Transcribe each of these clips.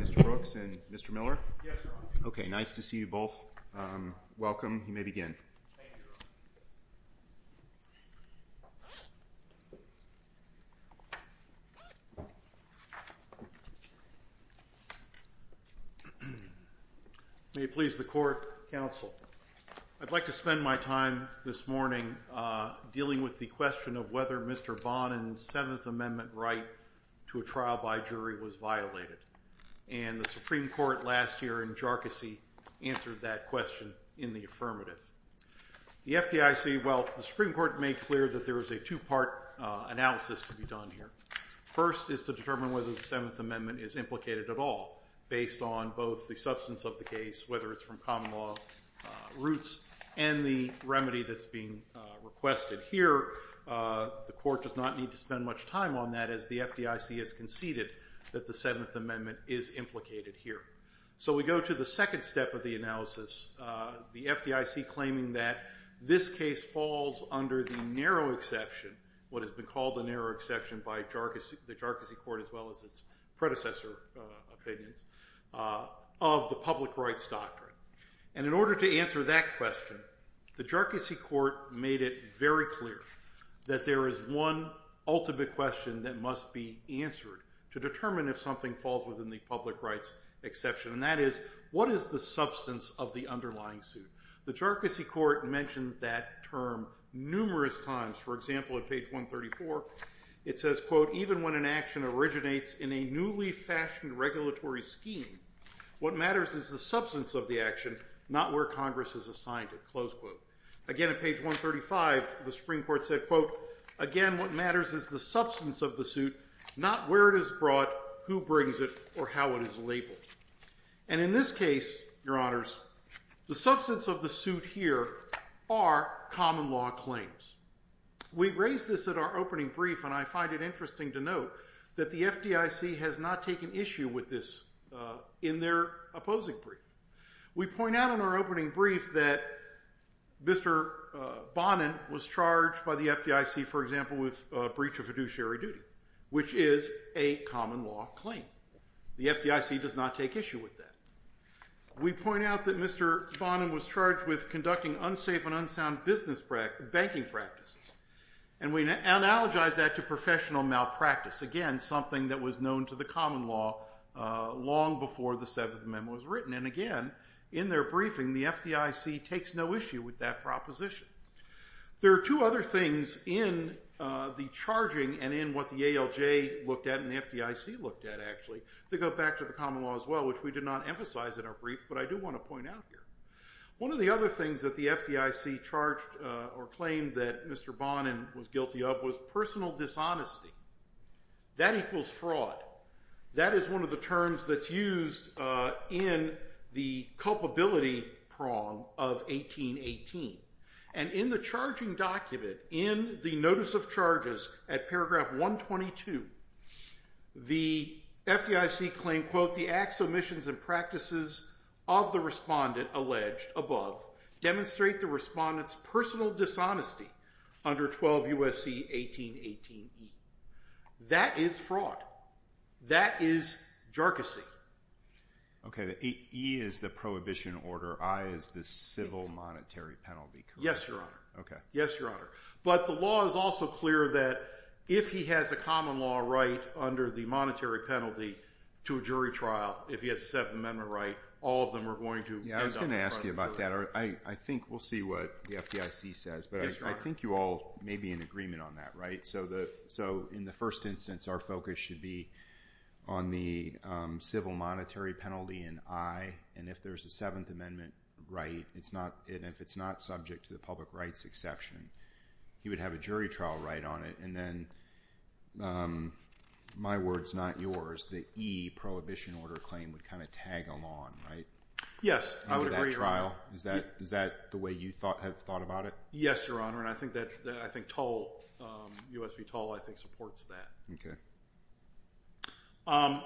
Mr. Brooks, and Mr. Miller? Yes, Your Honor. Okay, nice to see you both. Welcome. You may begin. Thank you, Your Honor. May it please the Court, Counsel. I'd like to spend my time this morning dealing with the question of whether Mr. Bonan's Seventh Amendment right to a trial by jury was violated. And the Supreme Court last year in Jharkissi answered that question in the affirmative. The FDIC, well, the Supreme Court made clear that there is a two-part analysis to be done here. First is to determine whether the Seventh Amendment is implicated at all, based on both the substance of the case, whether it's from common law roots, and the remedy that's being requested. Here, the Court does not need to spend much time on that, as the FDIC has conceded that the Seventh Amendment is implicated here. So, we go to the second step of the analysis, the FDIC claiming that this case falls under the narrow exception, what has been called the narrow exception by the Jharkissi Court as well as its predecessor opinions, of the public rights doctrine. And in order to answer that question, the Jharkissi Court made it very clear that there is one ultimate question that must be answered to determine if something falls within the public rights exception, and that is, what is the substance of the underlying suit? The Jharkissi Court mentioned that term numerous times. For example, at page 134, it says, quote, even when an action originates in a newly fashioned regulatory scheme, what matters is the substance of the action, not where Congress is assigned it, close quote. Again, at page 135, the Supreme Court said, quote, again, what matters is the substance of the suit, not where it is brought, who brings it, or how it is labeled. And in this case, Your Honors, the substance of the suit here are common law claims. We raised this at our opening brief, and I find it interesting to note that the FDIC has not taken issue with this in their opposing brief. We point out in our opening brief that Mr. Bonin was charged by the FDIC, for example, with breach of fiduciary duty, which is a common law claim. The FDIC does not take issue with that. We point out that Mr. Bonin was charged with conducting unsafe and unsound business banking practices, and we analogize that to professional malpractice, again, something that was known to the common law long before the Seventh Amendment was written. And again, in their briefing, the FDIC takes no issue with that proposition. There are two other things in the charging and in what the ALJ looked at and the FDIC looked at, actually, that go back to the common law as well, which we did not emphasize in our brief, but I do want to point out here. One of the other things that the FDIC charged or claimed that Mr. Bonin was guilty of was personal dishonesty. That equals fraud. That is one of the terms that's used in the culpability prong of 1818. And in the charging document, in the notice of charges at paragraph 122, the FDIC claimed, quote, the acts, omissions, and practices of the respondent alleged above demonstrate the respondent's personal dishonesty under 12 U.S.C. 1818E. That is fraud. That is jarkusy. Okay, the E is the prohibition order, I is the civil monetary penalty, correct? Yes, Your Honor. Okay. Yes, Your Honor. But the law is also clear that if he has a common law right under the monetary penalty to a jury trial, if he has a Seventh Amendment right, all of them are going to end up in the jury trial. I don't see what the FDIC says. Yes, Your Honor. But I think you all may be in agreement on that, right? So in the first instance, our focus should be on the civil monetary penalty and I. And if there's a Seventh Amendment right, and if it's not subject to the public rights exception, he would have a jury trial right on it. And then, my word's not yours, the E prohibition order claim would kind of tag along, right? Yes, I would agree with that. So if it's a jury trial, is that the way you have thought about it? Yes, Your Honor. And I think U.S. v. Toll I think supports that.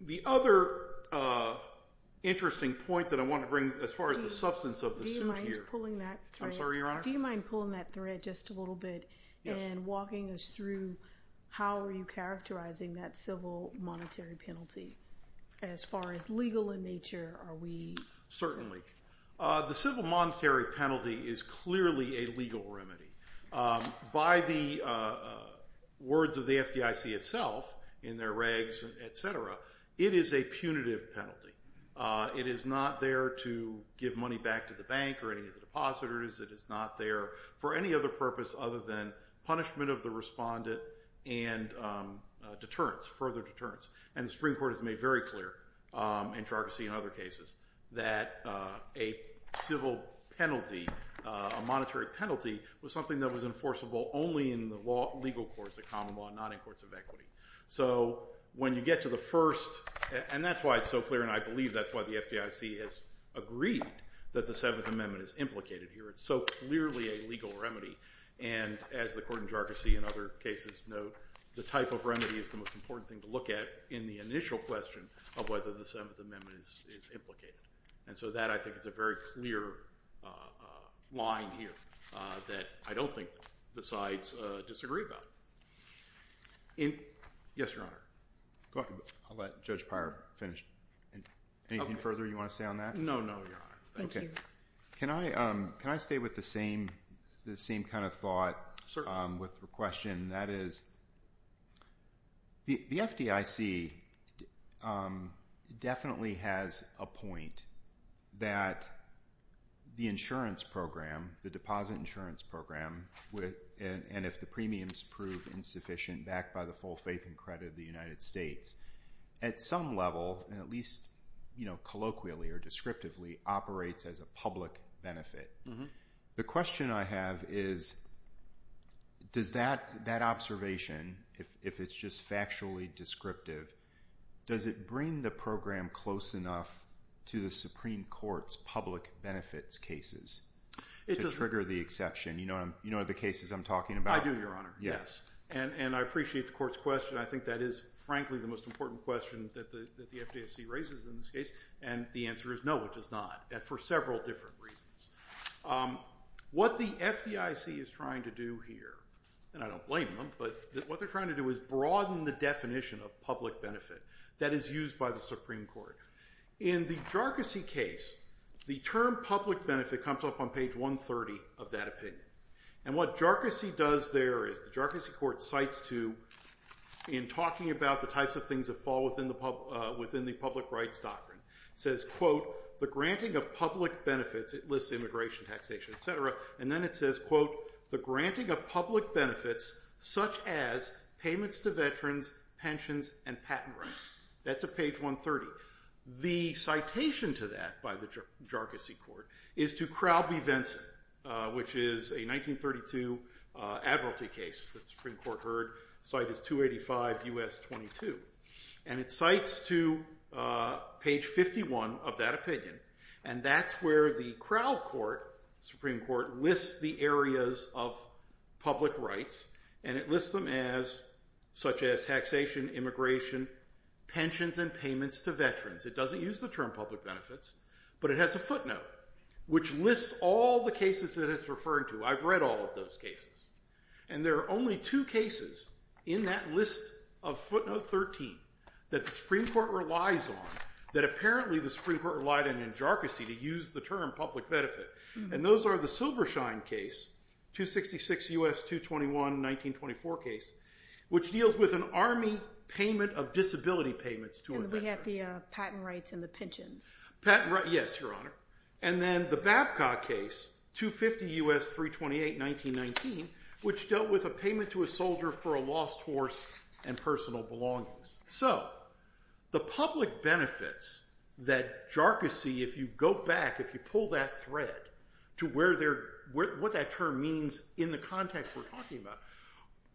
The other interesting point that I want to bring as far as the substance of the suit here. Do you mind pulling that thread? I'm sorry, Your Honor? Do you mind pulling that thread just a little bit and walking us through how are you characterizing that civil monetary penalty? As far as legal in nature, are we... Certainly. The civil monetary penalty is clearly a legal remedy. By the words of the FDIC itself, in their regs, et cetera, it is a punitive penalty. It is not there to give money back to the bank or any of the depositors. It is not there for any other purpose other than punishment of the respondent and deterrence, further deterrence. And the Supreme Court has made very clear, in tragedy and other cases, that a civil penalty, a monetary penalty, was something that was enforceable only in the legal courts, the common law, not in courts of equity. So when you get to the first... And that's why it's so clear, and I believe that's why the FDIC has agreed that the Seventh Amendment is so clearly a legal remedy. And as the Court of Juracracy and other cases note, the type of remedy is the most important thing to look at in the initial question of whether the Seventh Amendment is implicated. And so that, I think, is a very clear line here that I don't think the sides disagree about. Yes, Your Honor. Go ahead. I'll let Judge Pyer finish. Anything further you want to say on that? No, no, Your Honor. Thank you. Can I stay with the same kind of thought with the question? That is, the FDIC definitely has a point that the insurance program, the deposit insurance program, and if the premiums prove insufficient, backed by the full faith and credit of the public benefit. The question I have is, does that observation, if it's just factually descriptive, does it bring the program close enough to the Supreme Court's public benefits cases to trigger the exception? You know the cases I'm talking about? I do, Your Honor. Yes. And I appreciate the Court's question. I think that is, frankly, the most important question that the FDIC raises in this case, and the answer is no, it does not. And for several different reasons. What the FDIC is trying to do here, and I don't blame them, but what they're trying to do is broaden the definition of public benefit that is used by the Supreme Court. In the Jarkissi case, the term public benefit comes up on page 130 of that opinion. And what Jarkissi does there is, the Jarkissi Court cites to, in talking about the types of things that fall within the public rights doctrine, it says, quote, the granting of public benefits, it lists immigration, taxation, et cetera, and then it says, quote, the granting of public benefits such as payments to veterans, pensions, and patent rights. That's at page 130. The citation to that by the Jarkissi Court is to Crowley-Vinson, which is a 1932 admiralty case that the Supreme Court heard. Cite is 285 U.S. 22. And it cites to page 51 of that opinion, and that's where the Crowley Court, Supreme Court, lists the areas of public rights, and it lists them as, such as taxation, immigration, pensions, and payments to veterans. It doesn't use the term public benefits, but it has a footnote, which lists all the cases that it's referring to. I've read all of those cases. And there are only two cases in that list of footnote 13 that the Supreme Court relies on, that apparently the Supreme Court relied on in Jarkissi to use the term public benefit. And those are the Silvershine case, 266 U.S. 221, 1924 case, which deals with an army payment of disability payments to a veteran. And we have the patent rights and the pensions. Patent rights, yes, Your Honor. And then the Babcock case, 250 U.S. 328, 1919, which dealt with a payment to a soldier for a lost horse and personal belongings. So the public benefits that Jarkissi, if you go back, if you pull that thread to what that term means in the context we're talking about,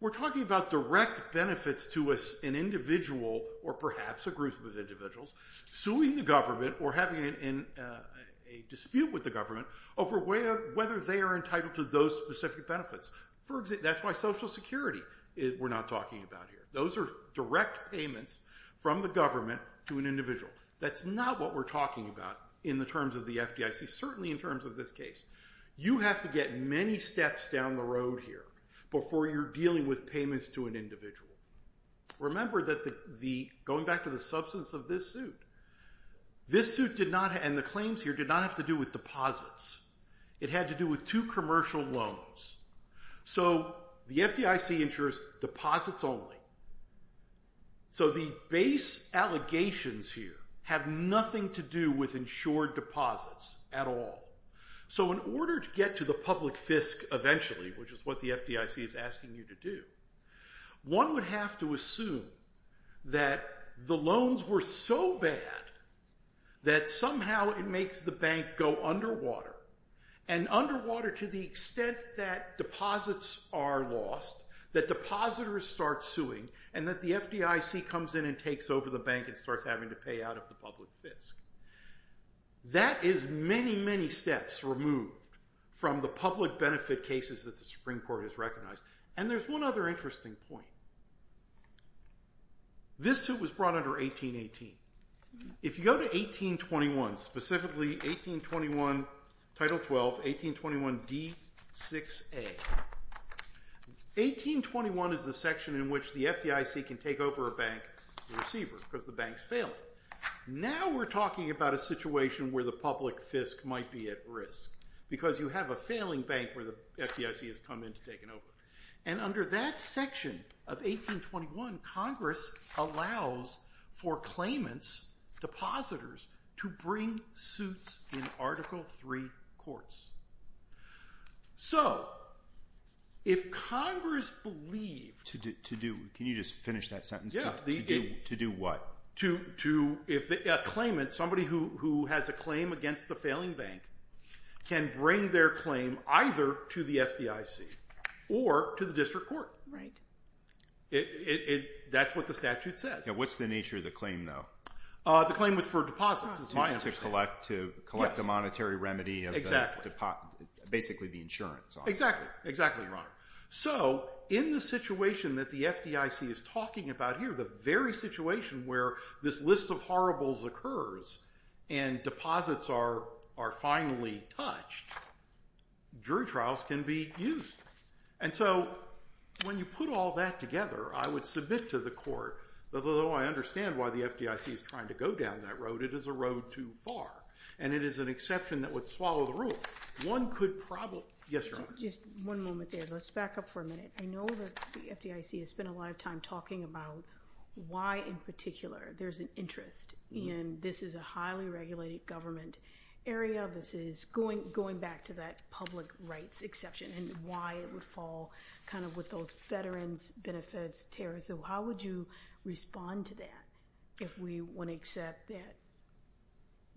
we're talking about direct benefits to an individual or perhaps a group of individuals suing the government or having a dispute with the government over whether they are entitled to those specific benefits. That's why Social Security we're not talking about here. Those are direct payments from the government to an individual. That's not what we're talking about in the terms of the FDIC, certainly in terms of this case. You have to get many steps down the road here before you're dealing with payments to an individual. Remember that the, going back to the substance of this suit, this suit did not, and the claims here, did not have to do with deposits. It had to do with two commercial loans. So the FDIC insures deposits only. So the base allegations here have nothing to do with insured deposits at all. So in order to get to the public fisc eventually, which is what the FDIC is asking you to do, one would have to assume that the loans were so bad that somehow it makes the bank go underwater, and underwater to the extent that deposits are lost, that depositors start suing, and that the FDIC comes in and takes over the bank and starts having to pay out of the public fisc. That is many, many steps removed from the public benefit cases that the Supreme Court has recognized. And there's one other interesting point. This suit was brought under 1818. If you go to 1821, specifically 1821 Title 12, 1821 D6A, 1821 is the section in which the FDIC can take over a bank, the receiver, because the bank's failing. Now we're talking about a situation where the public fisc might be at risk, because you have a failing bank where the FDIC has come in to take it over. And under that section of 1821, Congress allows for claimants, depositors, to bring suits in Article III courts. So if Congress believed... Can you just finish that sentence? To do what? A claimant, somebody who has a claim against the failing bank, can bring their claim either to the FDIC or to the district court. Right. That's what the statute says. What's the nature of the claim, though? The claim was for deposits. It's not to collect a monetary remedy of basically the insurance. Exactly. Exactly, Your Honor. So in the situation that the FDIC is talking about here, the very situation where this list of horribles occurs and deposits are finally touched, jury trials can be used. And so when you put all that together, I would submit to the court, although I understand why the FDIC is trying to go down that road, it is a road too far, and it is an exception that would swallow the rule. One could probably... Yes, Your Honor. Just one moment there. Let's back up for a minute. I know that the FDIC has spent a lot of time talking about why, in particular, there's an interest in this is a highly regulated government area. This is going back to that public rights exception and why it would fall kind of with those veterans benefits tariffs. So how would you respond to that if we want to accept that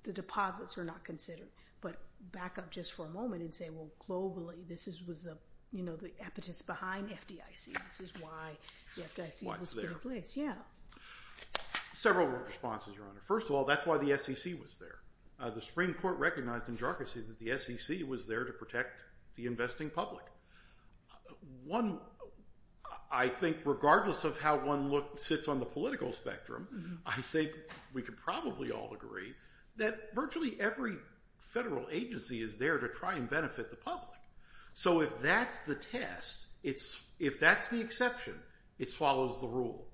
the deposits were not considered? But back up just for a moment and say, well, globally, this was the impetus behind FDIC. This is why the FDIC was put in place. Yeah. Several responses, Your Honor. First of all, that's why the SEC was there. The Supreme Court recognized in jarcossy that the SEC was there to protect the investing public. One, I think, regardless of how one sits on the political spectrum, I think we could probably all agree that virtually every federal agency is there to try and benefit the public. So if that's the test, if that's the exception, it follows the rule.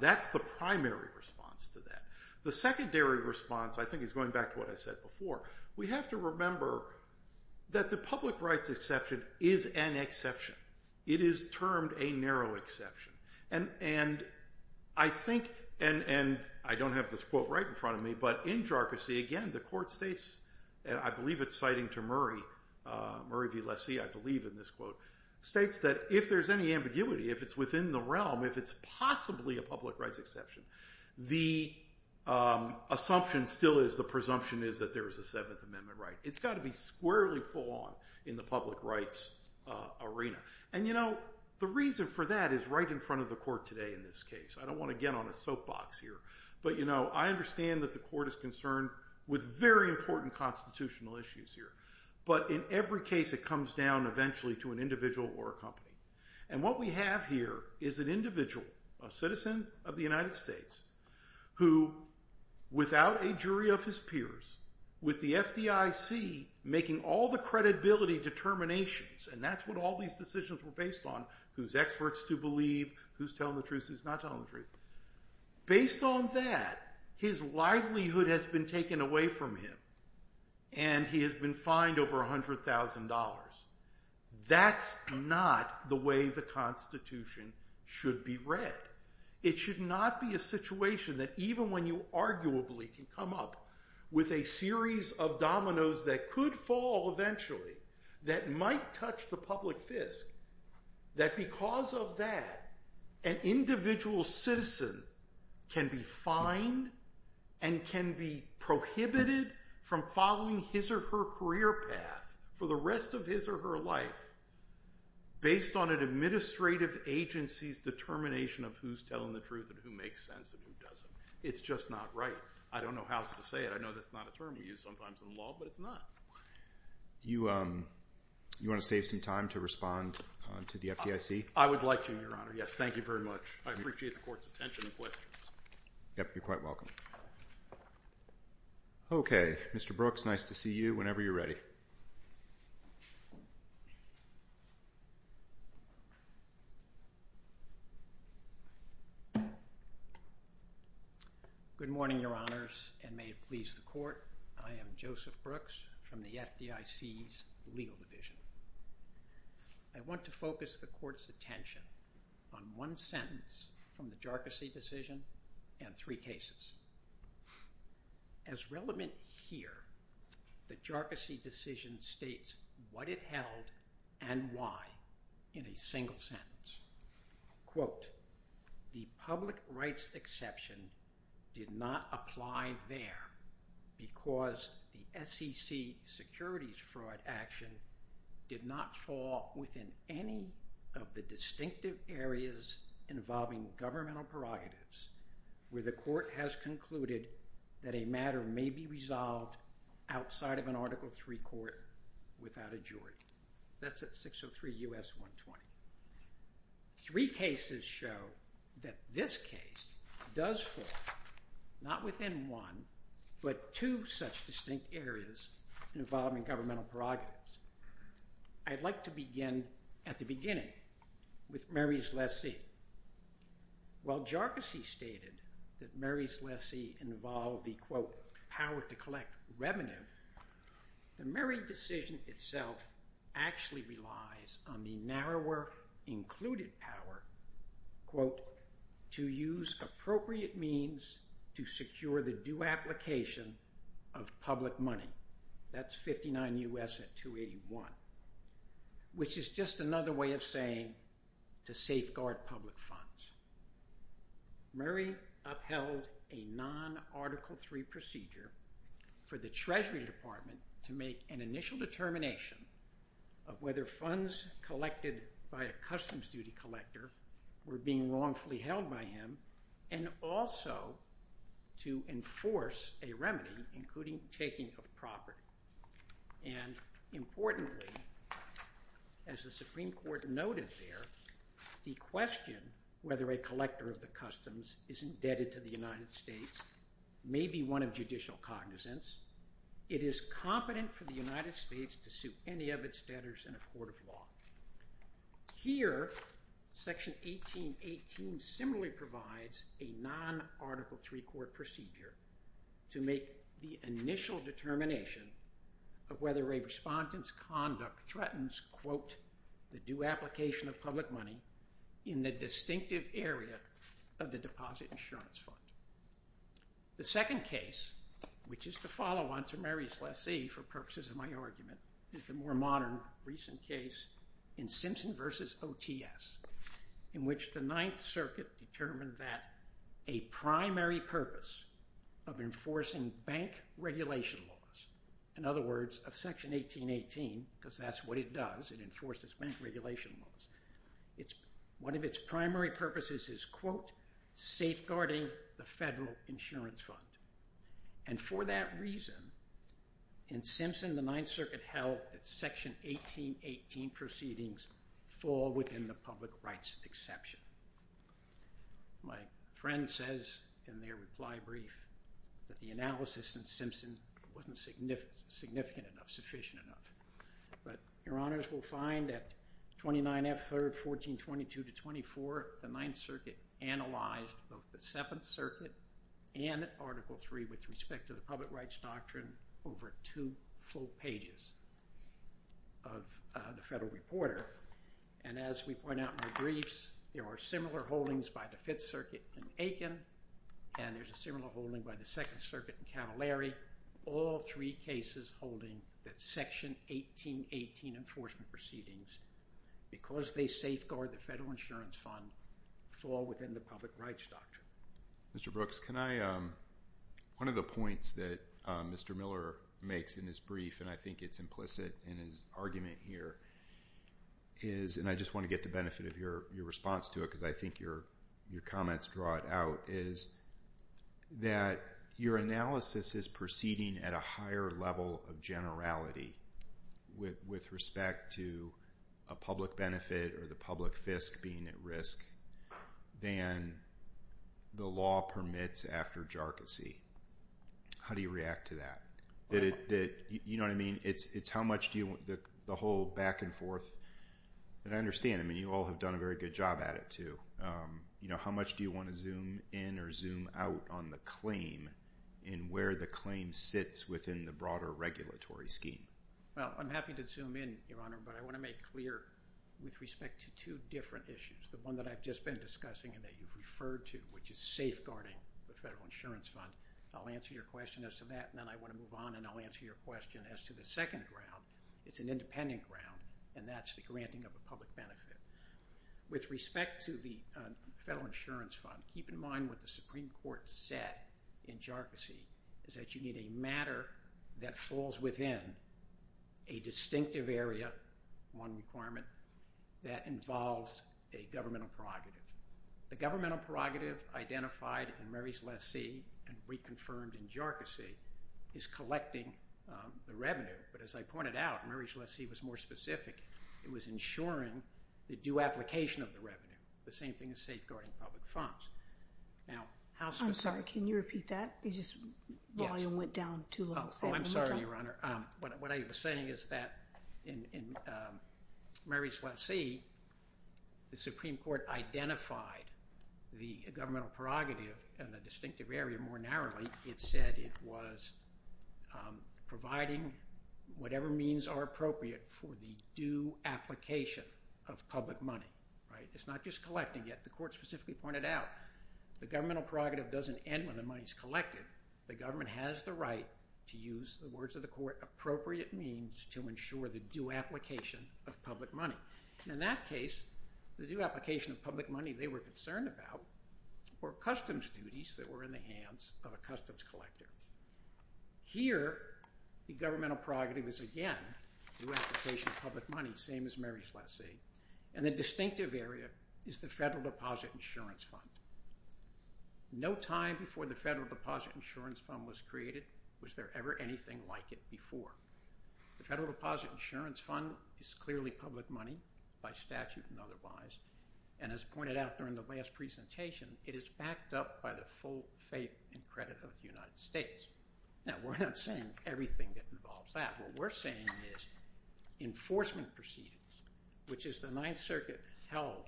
That's the primary response to that. The secondary response, I think, is going back to what I said before. We have to remember that the public rights exception is an exception. It is termed a narrow exception. And I think, and I don't have this quote right in front of me, but in jarcossy, again, the court states, and I believe it's citing to Murray, Murray v. Lassie, I believe in this quote, states that if there's any ambiguity, if it's within the realm, if it's possibly a public rights exception, the assumption still is, the presumption is that there is a Seventh Amendment right. It's got to be squarely full on in the public rights arena. And the reason for that is right in front of the court today in this case. I don't want to get on a soapbox here. But I understand that the court is concerned with very important constitutional issues here. But in every case, it comes down eventually to an individual or a company. And what we have here is an individual, a citizen of the United States, who, without a jury of his peers, with the FDIC making all the credibility determinations, and that's what all these decisions were based on, who's experts to believe, who's telling the truth, who's not telling the truth. Based on that, his livelihood has been taken away from him. And he has been fined over $100,000. That's not the way the Constitution should be read. It should not be a situation that even when you arguably can come up with a series of public fisc, that because of that, an individual citizen can be fined and can be prohibited from following his or her career path for the rest of his or her life based on an administrative agency's determination of who's telling the truth and who makes sense and who doesn't. It's just not right. I don't know how else to say it. I know that's not a term we use sometimes in law, but it's not. You want to save some time to respond to the FDIC? I would like to, Your Honor. Yes. Thank you very much. I appreciate the Court's attention and questions. Yep. You're quite welcome. Okay. Mr. Brooks, nice to see you whenever you're ready. Good morning, Your Honors, and may it please the Court. I am Joseph Brooks from the FDIC's Legal Division. I want to focus the Court's attention on one sentence from the Jarcosi decision and three cases. As relevant here, the Jarcosi decision states what it held and why in a single sentence. Quote, the public rights exception did not apply there because the SEC securities fraud action did not fall within any of the distinctive areas involving governmental prerogatives where the Court has concluded that a matter may be resolved outside of an Article III court without a jury. That's at 603 U.S. 120. Three cases show that this case does fall not within one but two such distinct areas involving governmental prerogatives. I'd like to begin at the beginning with Murray's lessee. While Jarcosi stated that Murray's lessee involved the, quote, power to collect revenue, the Murray decision itself actually relies on the narrower included power, quote, to use appropriate means to secure the due application of public money. That's 59 U.S. at 281, which is just another way of saying to safeguard public funds. Murray upheld a non-Article III procedure for the Treasury Department to make an initial determination of whether funds collected by a customs duty collector were being wrongfully held by him and also to enforce a remedy including taking of property. And importantly, as the Supreme Court noted there, the question whether a collector of the customs is indebted to the United States may be one of judicial cognizance. It is competent for the United States to sue any of its debtors in a court of law. Here, Section 1818 similarly provides a non-Article III court procedure to make the initial determination of whether a respondent's conduct threatens, quote, the due application of public money in the distinctive area of the deposit insurance fund. The second case, which is the follow-on to Murray's lessee for purposes of my argument, is the more modern recent case in Simpson v. OTS in which the Ninth Circuit determined that a primary purpose of enforcing bank regulation laws, in other words, of Section 1818, because that's what it does, it enforces bank regulation laws, one of its primary purposes is, quote, safeguarding the federal insurance fund. And for that reason, in Simpson, the Ninth Circuit held that Section 1818 proceedings fall within the public rights exception. My friend says in their reply brief that the analysis in Simpson wasn't significant enough, sufficient enough. But your honors will find that 29 F. 3rd, 1422 to 24, the Ninth Circuit analyzed both the Seventh Circuit and Article III with respect to the public rights doctrine over two full pages of the Federal Reporter. And as we point out in our briefs, there are similar holdings by the Fifth Circuit in Aiken and there's a similar holding by the Second Circuit in Cavallari, all three cases holding that Section 1818 enforcement proceedings, because they safeguard the federal insurance fund, fall within the public rights doctrine. Mr. Brooks, can I, one of the points that Mr. Miller makes in his brief, and I think it's implicit in his argument here, is, and I just want to get the benefit of your response to it, because I think your comments draw it out, is that your analysis is proceeding at a higher level of generality with respect to a public benefit or the public fisc being at risk than the law permits after jarcossy. How do you react to that? You know what I mean? It's how much do you, the whole back and forth, and I understand, I mean, you all have done a very good job at it, too. You know, how much do you want to zoom in or zoom out on the claim and where the claim sits within the broader regulatory scheme? Well, I'm happy to zoom in, Your Honor, but I want to make clear with respect to two different issues, the one that I've just been discussing and that you've referred to, which is safeguarding the federal insurance fund. I'll answer your question as to that, and then I want to move on and I'll answer your question as to the second ground. It's an independent ground, and that's the granting of a public benefit. With respect to the federal insurance fund, keep in mind what the Supreme Court said in jarcossy is that you need a matter that falls within a distinctive area, one requirement, that involves a governmental prerogative. The governmental prerogative identified in Murray's lessee and reconfirmed in jarcossy is collecting the revenue, but as I pointed out, Murray's lessee was more specific. It was ensuring the due application of the revenue, the same thing as safeguarding public funds. I'm sorry. Can you repeat that? The volume went down too low. I'm sorry, Your Honor. What I was saying is that in Murray's lessee, the Supreme Court identified the governmental prerogative and the distinctive area more narrowly. It said it was providing whatever means are appropriate for the due application of public money. It's not just collecting. The court specifically pointed out the governmental prerogative doesn't end when the money is The government has the right to use the words of the court, appropriate means to ensure the due application of public money. In that case, the due application of public money they were concerned about were customs duties that were in the hands of a customs collector. Here, the governmental prerogative is again due application of public money, same as Murray's lessee. The distinctive area is the Federal Deposit Insurance Fund. No time before the Federal Deposit Insurance Fund was created was there ever anything like it before. The Federal Deposit Insurance Fund is clearly public money by statute and otherwise. As pointed out during the last presentation, it is backed up by the full faith and credit of the United States. Now, we're not saying everything that involves that. What we're saying is enforcement proceedings, which is the Ninth Circuit held,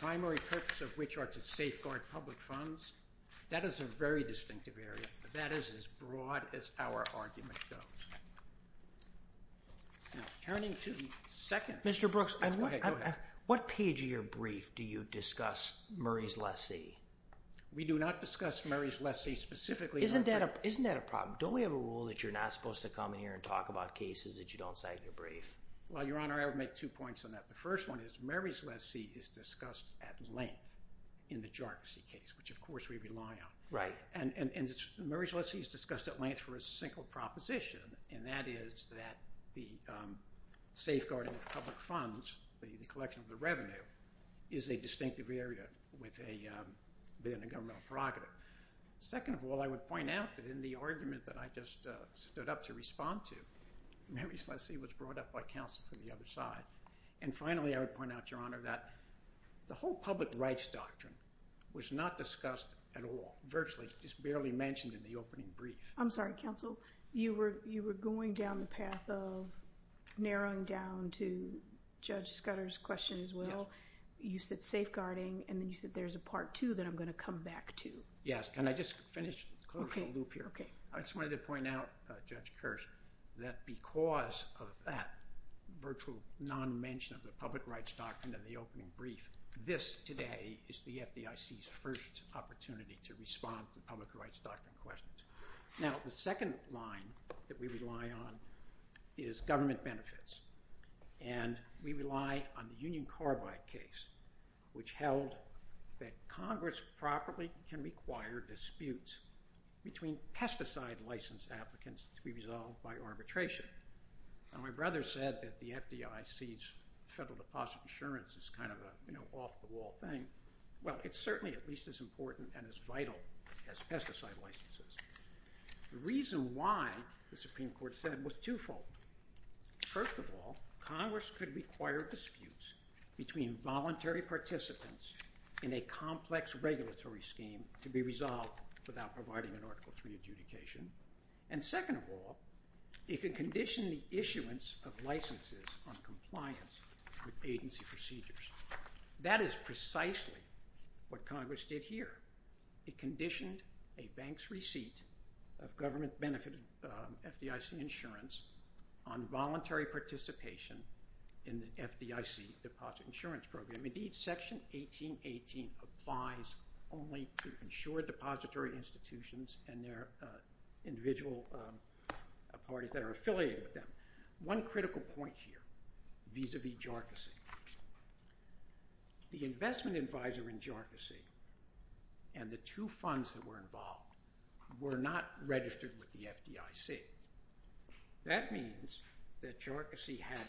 primary purpose of which are to safeguard public funds, that is a very distinctive area. That is as broad as our argument goes. Mr. Brooks, what page of your brief do you discuss Murray's lessee? We do not discuss Murray's lessee specifically. Isn't that a problem? Don't we have a rule that you're not supposed to come in here and talk about cases that you don't cite in your brief? Well, Your Honor, I would make two points on that. The first one is Murray's lessee is discussed at length in the jurisdiction case, which of course we rely on. Right. And Murray's lessee is discussed at length for a single proposition, and that is that the safeguarding of public funds, the collection of the revenue, is a distinctive area within a governmental prerogative. Second of all, I would point out that in the argument that I just stood up to respond to, Murray's lessee was brought up by counsel from the other side. And finally, I would point out, Your Honor, that the whole public rights doctrine was not discussed at all, virtually, just barely mentioned in the opening brief. I'm sorry, counsel. You were going down the path of narrowing down to Judge Scudder's question as well. You said safeguarding, and then you said there's a part two that I'm going to come back to. Can I just finish closing the loop here? Okay. Okay. I just wanted to point out, Judge Kearse, that because of that virtual non-mention of the public rights doctrine in the opening brief, this today is the FDIC's first opportunity to respond to public rights doctrine questions. Now, the second line that we rely on is government benefits. And we rely on the Union Carbide case, which held that Congress properly can require disputes between pesticide license applicants to be resolved by arbitration. Now, my brother said that the FDIC's federal deposit insurance is kind of an off-the-wall thing. Well, it's certainly at least as important and as vital as pesticide licenses. The reason why, the Supreme Court said, was twofold. First of all, Congress could require disputes between voluntary participants in a complex regulatory scheme to be resolved without providing an Article III adjudication. And second of all, it could condition the issuance of licenses on compliance with agency procedures. That is precisely what Congress did here. It conditioned a bank's receipt of government-benefited FDIC insurance on voluntary participation in the FDIC deposit insurance program. Indeed, Section 1818 applies only to insured depository institutions and their individual parties that are affiliated with them. One critical point here vis-a-vis JARCISI. The investment advisor in JARCISI and the two funds that were involved were not registered with the FDIC. That means that JARCISI had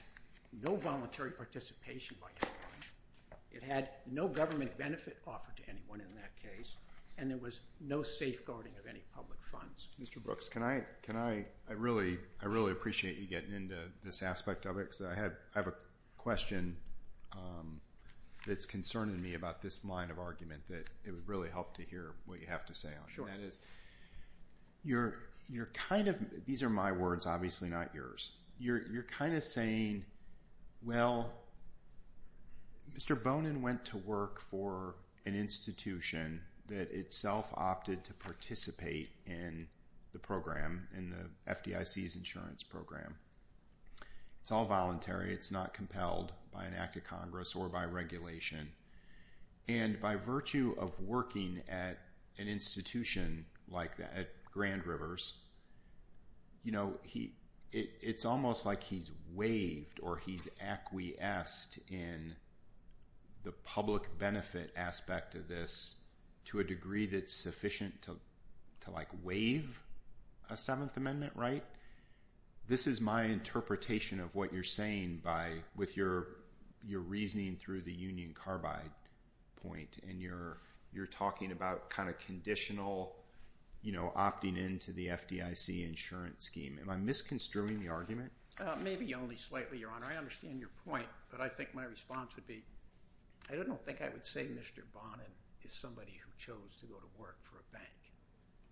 no voluntary participation by government. It had no government benefit offered to anyone in that case. And there was no safeguarding of any public funds. Mr. Brooks, I really appreciate you getting into this aspect of it because I have a question that's concerning me about this line of argument that it would really help to hear what you have to say on it. That is, you're kind of, these are my words, obviously not yours. You're kind of saying, well, Mr. Bonin went to work for an institution that itself opted to participate in the program, in the FDIC's insurance program. It's all voluntary. It's not compelled by an act of Congress or by regulation. And by virtue of working at an institution like that, at Grand Rivers, you know, it's almost like he's waived or he's acquiesced in the public benefit aspect of this to a degree that's sufficient to like waive a Seventh Amendment right? This is my interpretation of what you're saying by, with your reasoning through the union carbide point and you're talking about kind of conditional, you know, opting into the FDIC insurance scheme. Am I misconstruing the argument? Maybe only slightly, Your Honor. I understand your point, but I think my response would be, I don't think I would say Mr. Bonin is somebody who chose to go to work for a bank.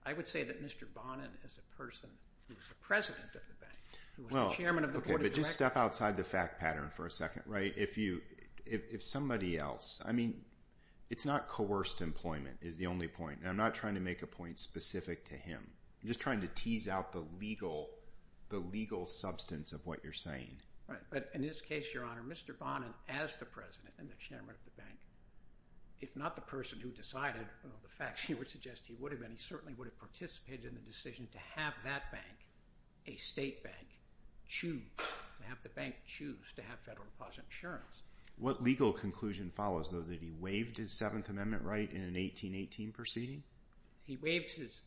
I would say that Mr. Bonin as a person who was the president of the bank, who was the chairman of the board of directors. Okay, but just step outside the fact pattern for a second, right? If you, if somebody else, I mean, it's not coerced employment is the only point. And I'm not trying to make a point specific to him. I'm just trying to tease out the legal, the legal substance of what you're saying. Right, but in this case, Your Honor, Mr. Bonin as the president and the chairman of the bank, he certainly would have participated in the decision to have that bank, a state bank, choose, have the bank choose to have federal deposit insurance. What legal conclusion follows, though, that he waived his Seventh Amendment right in an 1818 proceeding? He waived his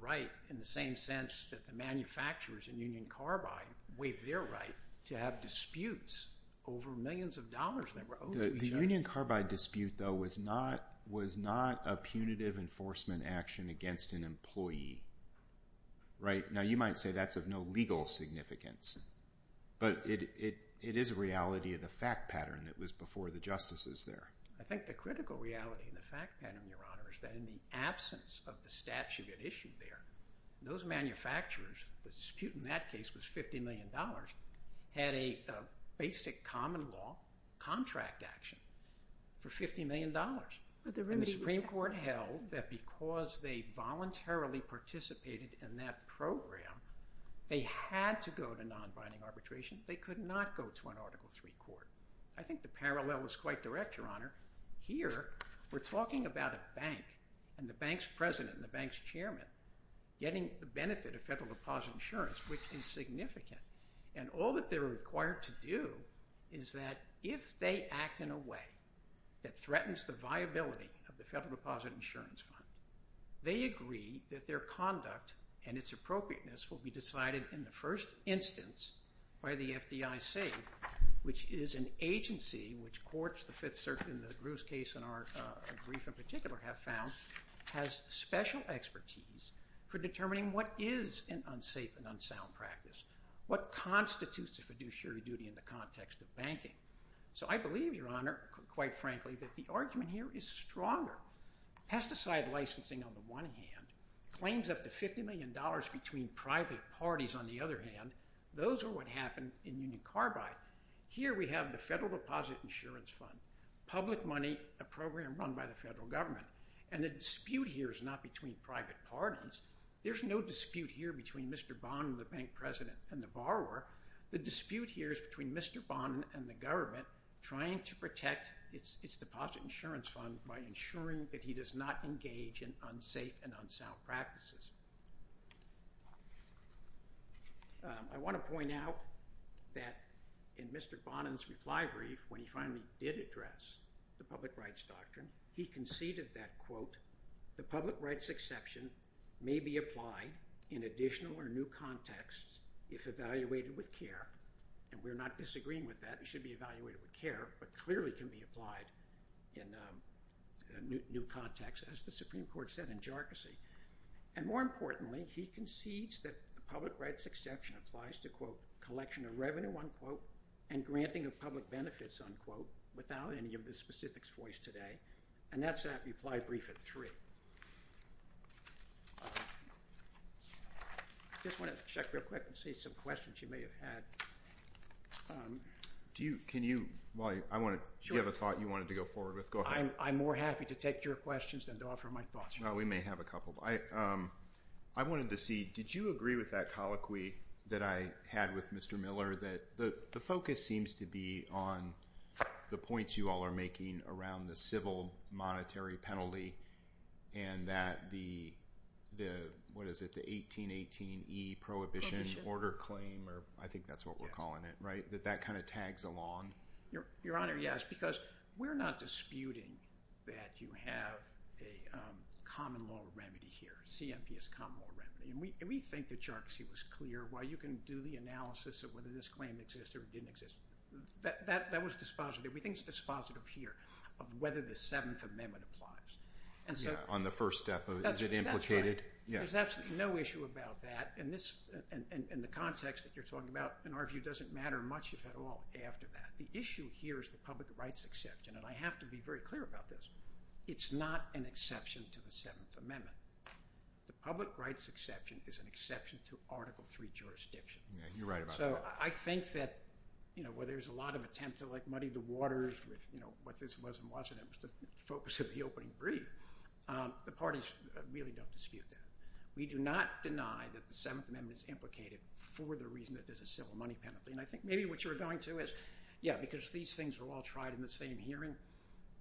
right in the same sense that the manufacturers in Union Carbide waived their right to have disputes over millions of dollars that were owed to each other. The Union Carbide dispute, though, was not, was not a punitive enforcement action against an employee, right? Now, you might say that's of no legal significance, but it, it, it is a reality of the fact pattern that was before the justices there. I think the critical reality in the fact pattern, Your Honor, is that in the absence of the statute at issue there, those manufacturers, the dispute in that case was $50 million, had a basic common law contract action for $50 million. The Supreme Court held that because they voluntarily participated in that program, they had to go to non-binding arbitration. They could not go to an Article III court. I think the parallel is quite direct, Your Honor. Here, we're talking about a bank and the bank's president and the bank's chairman getting the benefit of federal deposit insurance, which is significant, and all that they're required to do is that if they act in a way that threatens the viability of the federal deposit insurance fund, they agree that their conduct and its appropriateness will be decided in the first instance by the FDIC, which is an agency which courts, the Fifth Circuit and the Bruce case in our brief in particular have found, has special expertise for determining what is an unsafe and unsound practice, what constitutes a fiduciary duty in the context of banking. So I believe, Your Honor, quite frankly, that the argument here is stronger. Pesticide licensing, on the one hand, claims up to $50 million between private parties. On the other hand, those are what happen in Union Carbide. Here, we have the Federal Deposit Insurance Fund, public money, a program run by the federal government, and the dispute here is not between private parties. There's no dispute here between Mr. Bond and the bank president and the borrower. The dispute here is between Mr. Bond and the government trying to protect its deposit insurance fund by ensuring that he does not engage in unsafe and unsound practices. I want to point out that in Mr. Bond's reply brief, when he finally did address the public rights doctrine, he conceded that, quote, the public rights exception may be applied in additional or new contexts if evaluated with care. And we're not disagreeing with that. It should be evaluated with care, but clearly can be applied in new contexts, as the Supreme Court has said. More importantly, he concedes that the public rights exception applies to, quote, collection of revenue, unquote, and granting of public benefits, unquote, without any of the specifics voiced today. And that's that reply brief at three. I just want to check real quick and see some questions you may have had. Do you have a thought you wanted to go forward with? Go ahead. I'm more happy to take your questions than to offer my thoughts. Well, we may have a couple. I wanted to see, did you agree with that colloquy that I had with Mr. Miller, that the focus seems to be on the points you all are making around the civil monetary penalty and that the, what is it, the 1818E prohibition order claim, or I think that's what we're calling it, right, that that kind of tags along? Your Honor, yes, because we're not disputing that you have a common law remedy here. CMP is a common law remedy. And we think the jargons here was clear. While you can do the analysis of whether this claim exists or didn't exist, that was dispositive. We think it's dispositive here of whether the Seventh Amendment applies. Yeah, on the first step, is it implicated? That's right. There's absolutely no issue about that. And the context that you're talking about, in our view, doesn't matter much at all after that. The issue here is the public rights exception. And I have to be very clear about this. It's not an exception to the Seventh Amendment. The public rights exception is an exception to Article III jurisdiction. Yeah, you're right about that. So I think that, you know, where there's a lot of attempt to, like, muddy the waters with, you know, what this was and wasn't, it was the focus of the opening brief, the parties really don't dispute that. We do not deny that the Seventh Amendment is implicated for the reason that there's a civil money penalty. And I think maybe what you were going to is, yeah, because these things were all tried in the same hearing,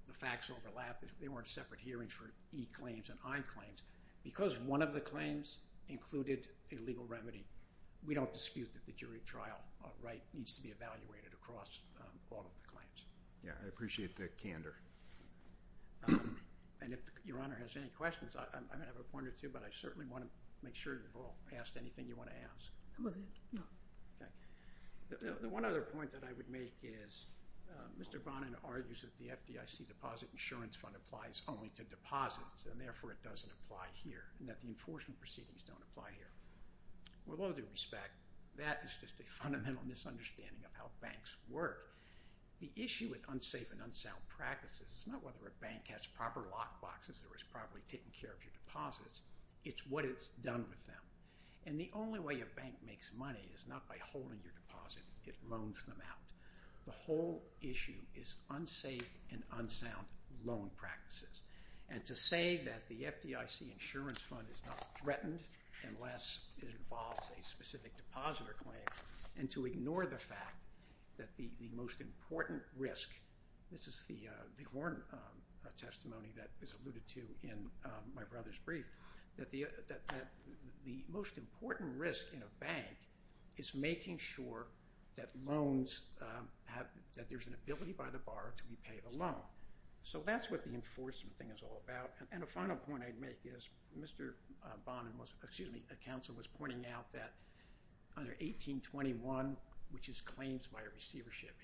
the facts overlapped. They weren't separate hearings for E claims and I claims. Because one of the claims included a legal remedy, we don't dispute that the jury trial right needs to be evaluated across all of the claims. Yeah, I appreciate the candor. And if Your Honor has any questions, I'm going to have a point or two, but I certainly want to make sure you've all asked anything you want to ask. The one other point that I would make is Mr. Bonin argues that the FDIC deposit insurance fund applies only to deposits and therefore it doesn't apply here and that the enforcement proceedings don't apply here. With all due respect, that is just a fundamental misunderstanding of how banks work. The issue with unsafe and unsound practices is not whether a bank has proper lockboxes or is properly taking care of your deposits, it's what it's done with them. And the only way a bank makes money is not by holding your deposit, it loans them out. The whole issue is unsafe and unsound loan practices. And to say that the FDIC insurance fund is not threatened unless it involves a specific depositor claim and to ignore the fact that the most important risk, this is the Horn testimony that is alluded to in my brother's brief, that the most important risk in a bank is making sure that loans have, that there's an ability by the borrower to repay the loan. So that's what the enforcement thing is all about. And a final point I'd make is Mr. Bonin was, excuse me, the counsel was pointing out that under 1821, which is claims by receivership,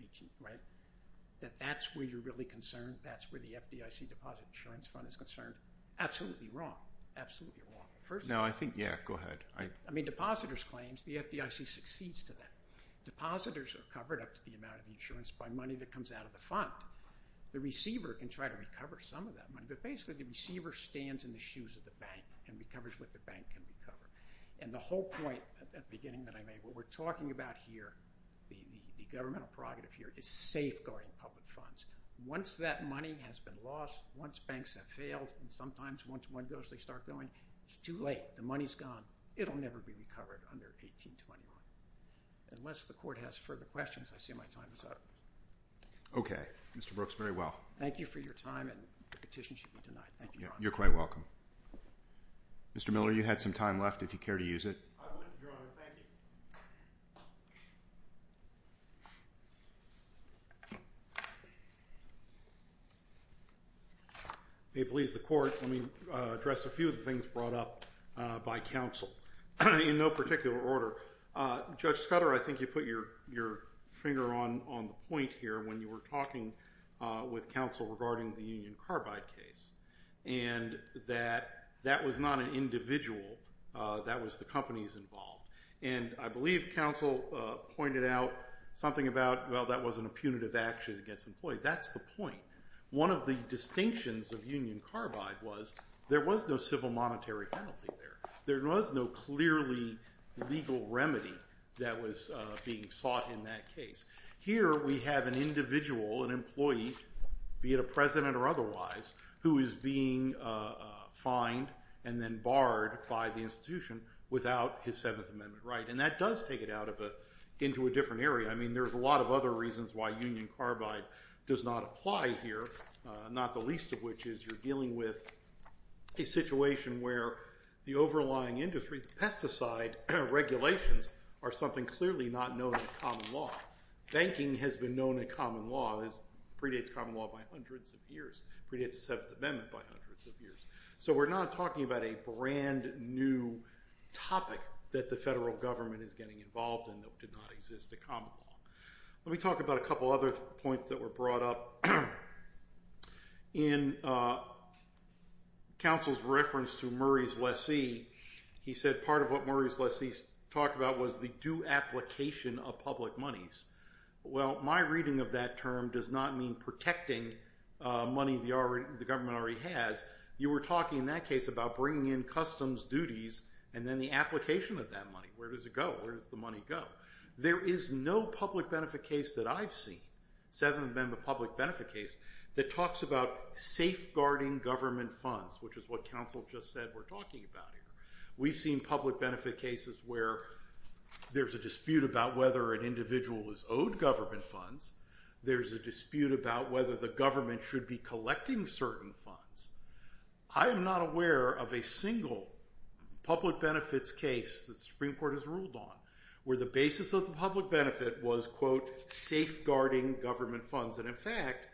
that that's where you're really concerned, that's where the FDIC deposit insurance fund is concerned. Absolutely wrong. Absolutely wrong. No, I think, yeah, go ahead. I mean, depositors' claims, the FDIC succeeds to that. Depositors are covered up to the amount of the insurance by money that comes out of the fund. The receiver can try to recover some of that money, but basically the receiver stands in the shoes of the bank and recovers what the bank can recover. And the whole point at the beginning that I made, what we're talking about here, the governmental prerogative here is safeguarding public funds. Once that money has been lost, once banks have failed, and sometimes once one goes they start going, it's too late. The money's gone. It'll never be recovered under 1821. Unless the court has further questions, I see my time is up. Okay. Mr. Brooks, very well. Thank you for your time and the petition should be denied. Thank you, Your Honor. You're quite welcome. Mr. Miller, you had some time left if you care to use it. I will, Your Honor. Thank you. If it pleases the court, let me address a few of the things brought up by counsel in no particular order. Judge Scudder, I think you put your finger on the point here when you were talking with counsel regarding the Union Carbide case and that that was not an individual. That was the companies involved. And I believe counsel pointed out something about, well, that wasn't a punitive action against an employee. That's the point. One of the distinctions of Union Carbide was there was no civil monetary penalty there. There was no clearly legal remedy that was being sought in that case. Here we have an individual, an employee, be it a president or otherwise, who is being fined and then barred by the institution without his Seventh Amendment right. And that does take it out into a different area. I mean, there's a lot of other reasons why Union Carbide does not apply here, not the least of which is you're dealing with a situation where the overlying industry, the pesticide regulations, are something clearly not known in common law. Banking has been known in common law, predates common law by hundreds of years, predates the Seventh Amendment by hundreds of years. So we're not talking about a brand new topic that the federal government is getting involved in even though it did not exist in common law. Let me talk about a couple other points that were brought up. In counsel's reference to Murray's lessee, he said part of what Murray's lessee talked about was the due application of public monies. Well, my reading of that term does not mean protecting money the government already has. You were talking in that case about bringing in customs duties and then the application of that money. Where does it go? Where does the money go? There is no public benefit case that I've seen, Seventh Amendment public benefit case, that talks about safeguarding government funds, which is what counsel just said we're talking about here. We've seen public benefit cases where there's a dispute about whether an individual is owed government funds. There's a dispute about whether the government should be collecting certain funds. I am not aware of a single public benefits case that the Supreme Court has ruled on where the basis of the public benefit was, quote, safeguarding government funds. And, in fact,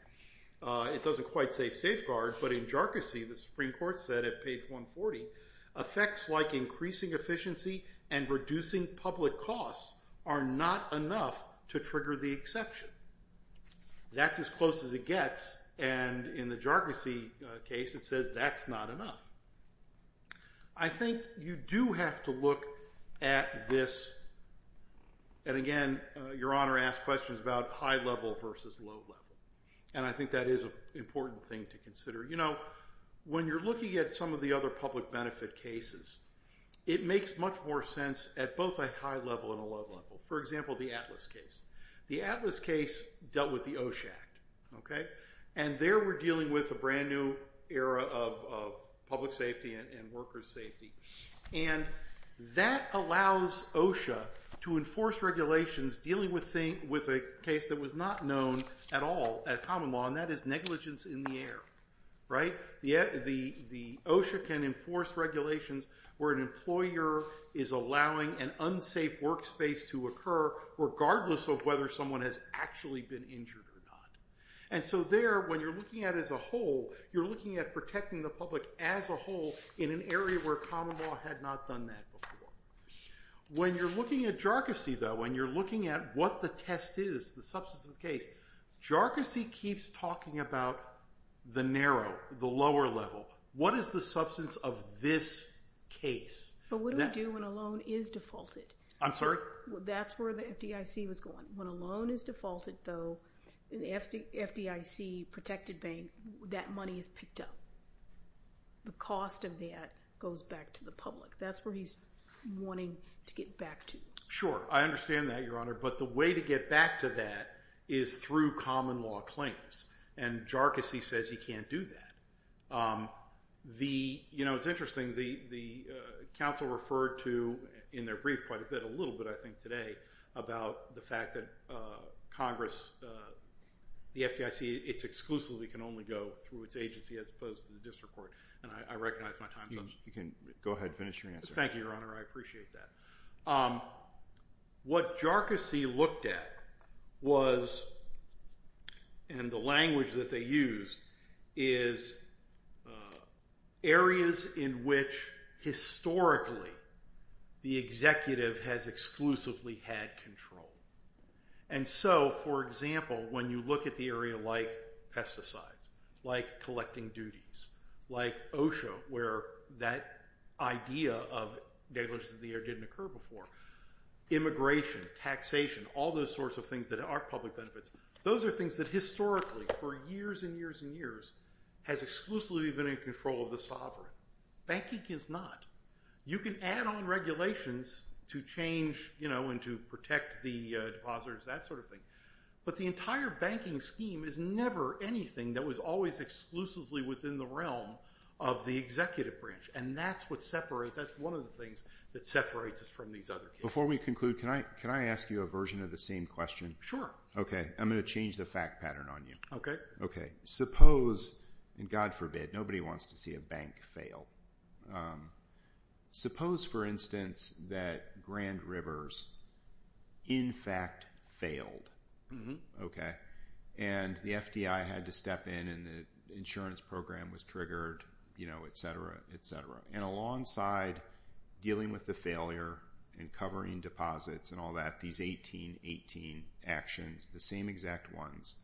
it doesn't quite say safeguard, but in jarcossy, the Supreme Court said at page 140, effects like increasing efficiency and reducing public costs are not enough to trigger the exception. That's as close as it gets, and in the jarcossy case, it says that's not enough. I think you do have to look at this, and again, Your Honor asked questions about high level versus low level, and I think that is an important thing to consider. You know, when you're looking at some of the other public benefit cases, it makes much more sense at both a high level and a low level. For example, the Atlas case. The Atlas case dealt with the OSHA Act, okay? And there we're dealing with a brand new era of public safety and worker's safety. And that allows OSHA to enforce regulations dealing with a case that was not known at all at common law, and that is negligence in the air, right? The OSHA can enforce regulations where an employer is allowing an unsafe workspace to occur, regardless of whether someone has actually been injured or not. And so there, when you're looking at it as a whole, you're looking at protecting the public as a whole in an area where common law had not done that before. When you're looking at jarcossy, though, when you're looking at what the test is, the substantive case, jarcossy keeps talking about the narrow, the lower level. What is the substance of this case? But what do we do when a loan is defaulted? I'm sorry? That's where the FDIC was going. When a loan is defaulted, though, the FDIC protected bank, that money is picked up. The cost of that goes back to the public. That's where he's wanting to get back to. Sure, I understand that, Your Honor, but the way to get back to that is through common law claims, and jarcossy says he can't do that. You know, it's interesting, the counsel referred to in their brief quite a bit, a little bit I think today, about the fact that Congress, the FDIC, it's exclusively can only go through its agency as opposed to the district court, and I recognize my time's up. You can go ahead and finish your answer. Thank you, Your Honor. I appreciate that. What jarcossy looked at was, and the language that they used, is areas in which historically the executive has exclusively had control, and so, for example, when you look at the area like pesticides, like collecting duties, like OSHA, where that idea of negligence of the air didn't occur before, immigration, taxation, all those sorts of things that aren't public benefits, those are things that historically for years and years and years has exclusively been in control of the sovereign. Banking is not. You can add on regulations to change, you know, and to protect the depositors, that sort of thing, but the entire banking scheme is never anything that was always exclusively within the realm of the executive branch, and that's what separates, that's one of the things that separates us from these other cases. Before we conclude, can I ask you a version of the same question? Sure. Okay, I'm going to change the fact pattern on you. Okay. Okay, suppose, and God forbid, nobody wants to see a bank fail. Suppose, for instance, that Grand Rivers in fact failed, okay, and the FDI had to step in and the insurance program was triggered, you know, et cetera, et cetera, and alongside dealing with the failure and covering deposits and all that, these 1818 actions, the same exact ones,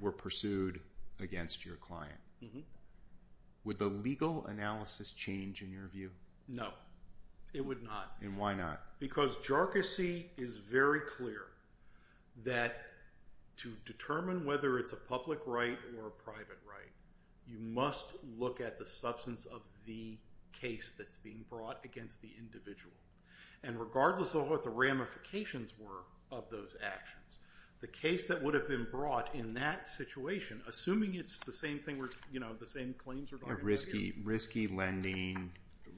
were pursued against your client. Would the legal analysis change in your view? No, it would not. And why not? Because jarcossy is very clear that to determine whether it's a public right or a private right, you must look at the substance of the case that's being brought against the individual, and regardless of what the ramifications were of those actions, the case that would have been brought in that situation, assuming it's the same thing where, you know, the same claims are going to be issued. Risky lending,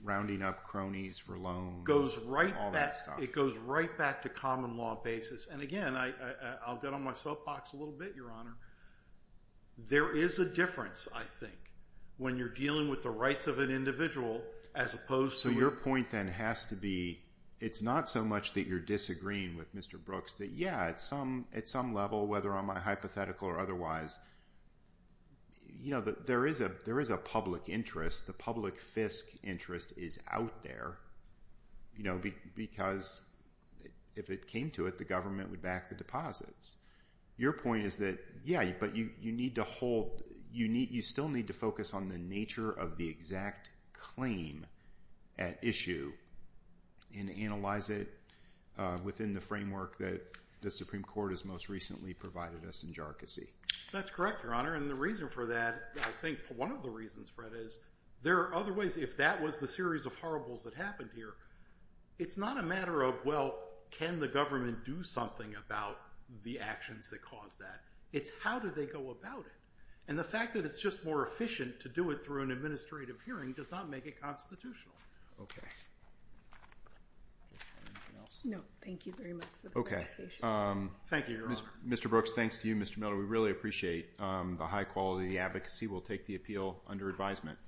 rounding up cronies for loans, all that stuff. It goes right back to common law basis. And, again, I'll get on my soapbox a little bit, Your Honor. There is a difference, I think, when you're dealing with the rights of an individual as opposed to a- So your point then has to be it's not so much that you're disagreeing with Mr. Brooks, that, yeah, at some level, whether I'm hypothetical or otherwise, you know, there is a public interest. The public FISC interest is out there, you know, because if it came to it, the government would back the deposits. Your point is that, yeah, but you need to hold-you still need to focus on the nature of the exact claim at issue and analyze it within the framework that the Supreme Court has most recently provided us in jarcossy. That's correct, Your Honor. And the reason for that, I think one of the reasons, Fred, is there are other ways. If that was the series of horribles that happened here, it's not a matter of, well, can the government do something about the actions that caused that. It's how do they go about it. And the fact that it's just more efficient to do it through an administrative hearing does not make it constitutional. Okay. Anything else? No. Thank you very much for the presentation. Thank you, Your Honor. Mr. Brooks, thanks to you. Mr. Miller, we really appreciate the high quality of the advocacy. We'll take the appeal under advisement.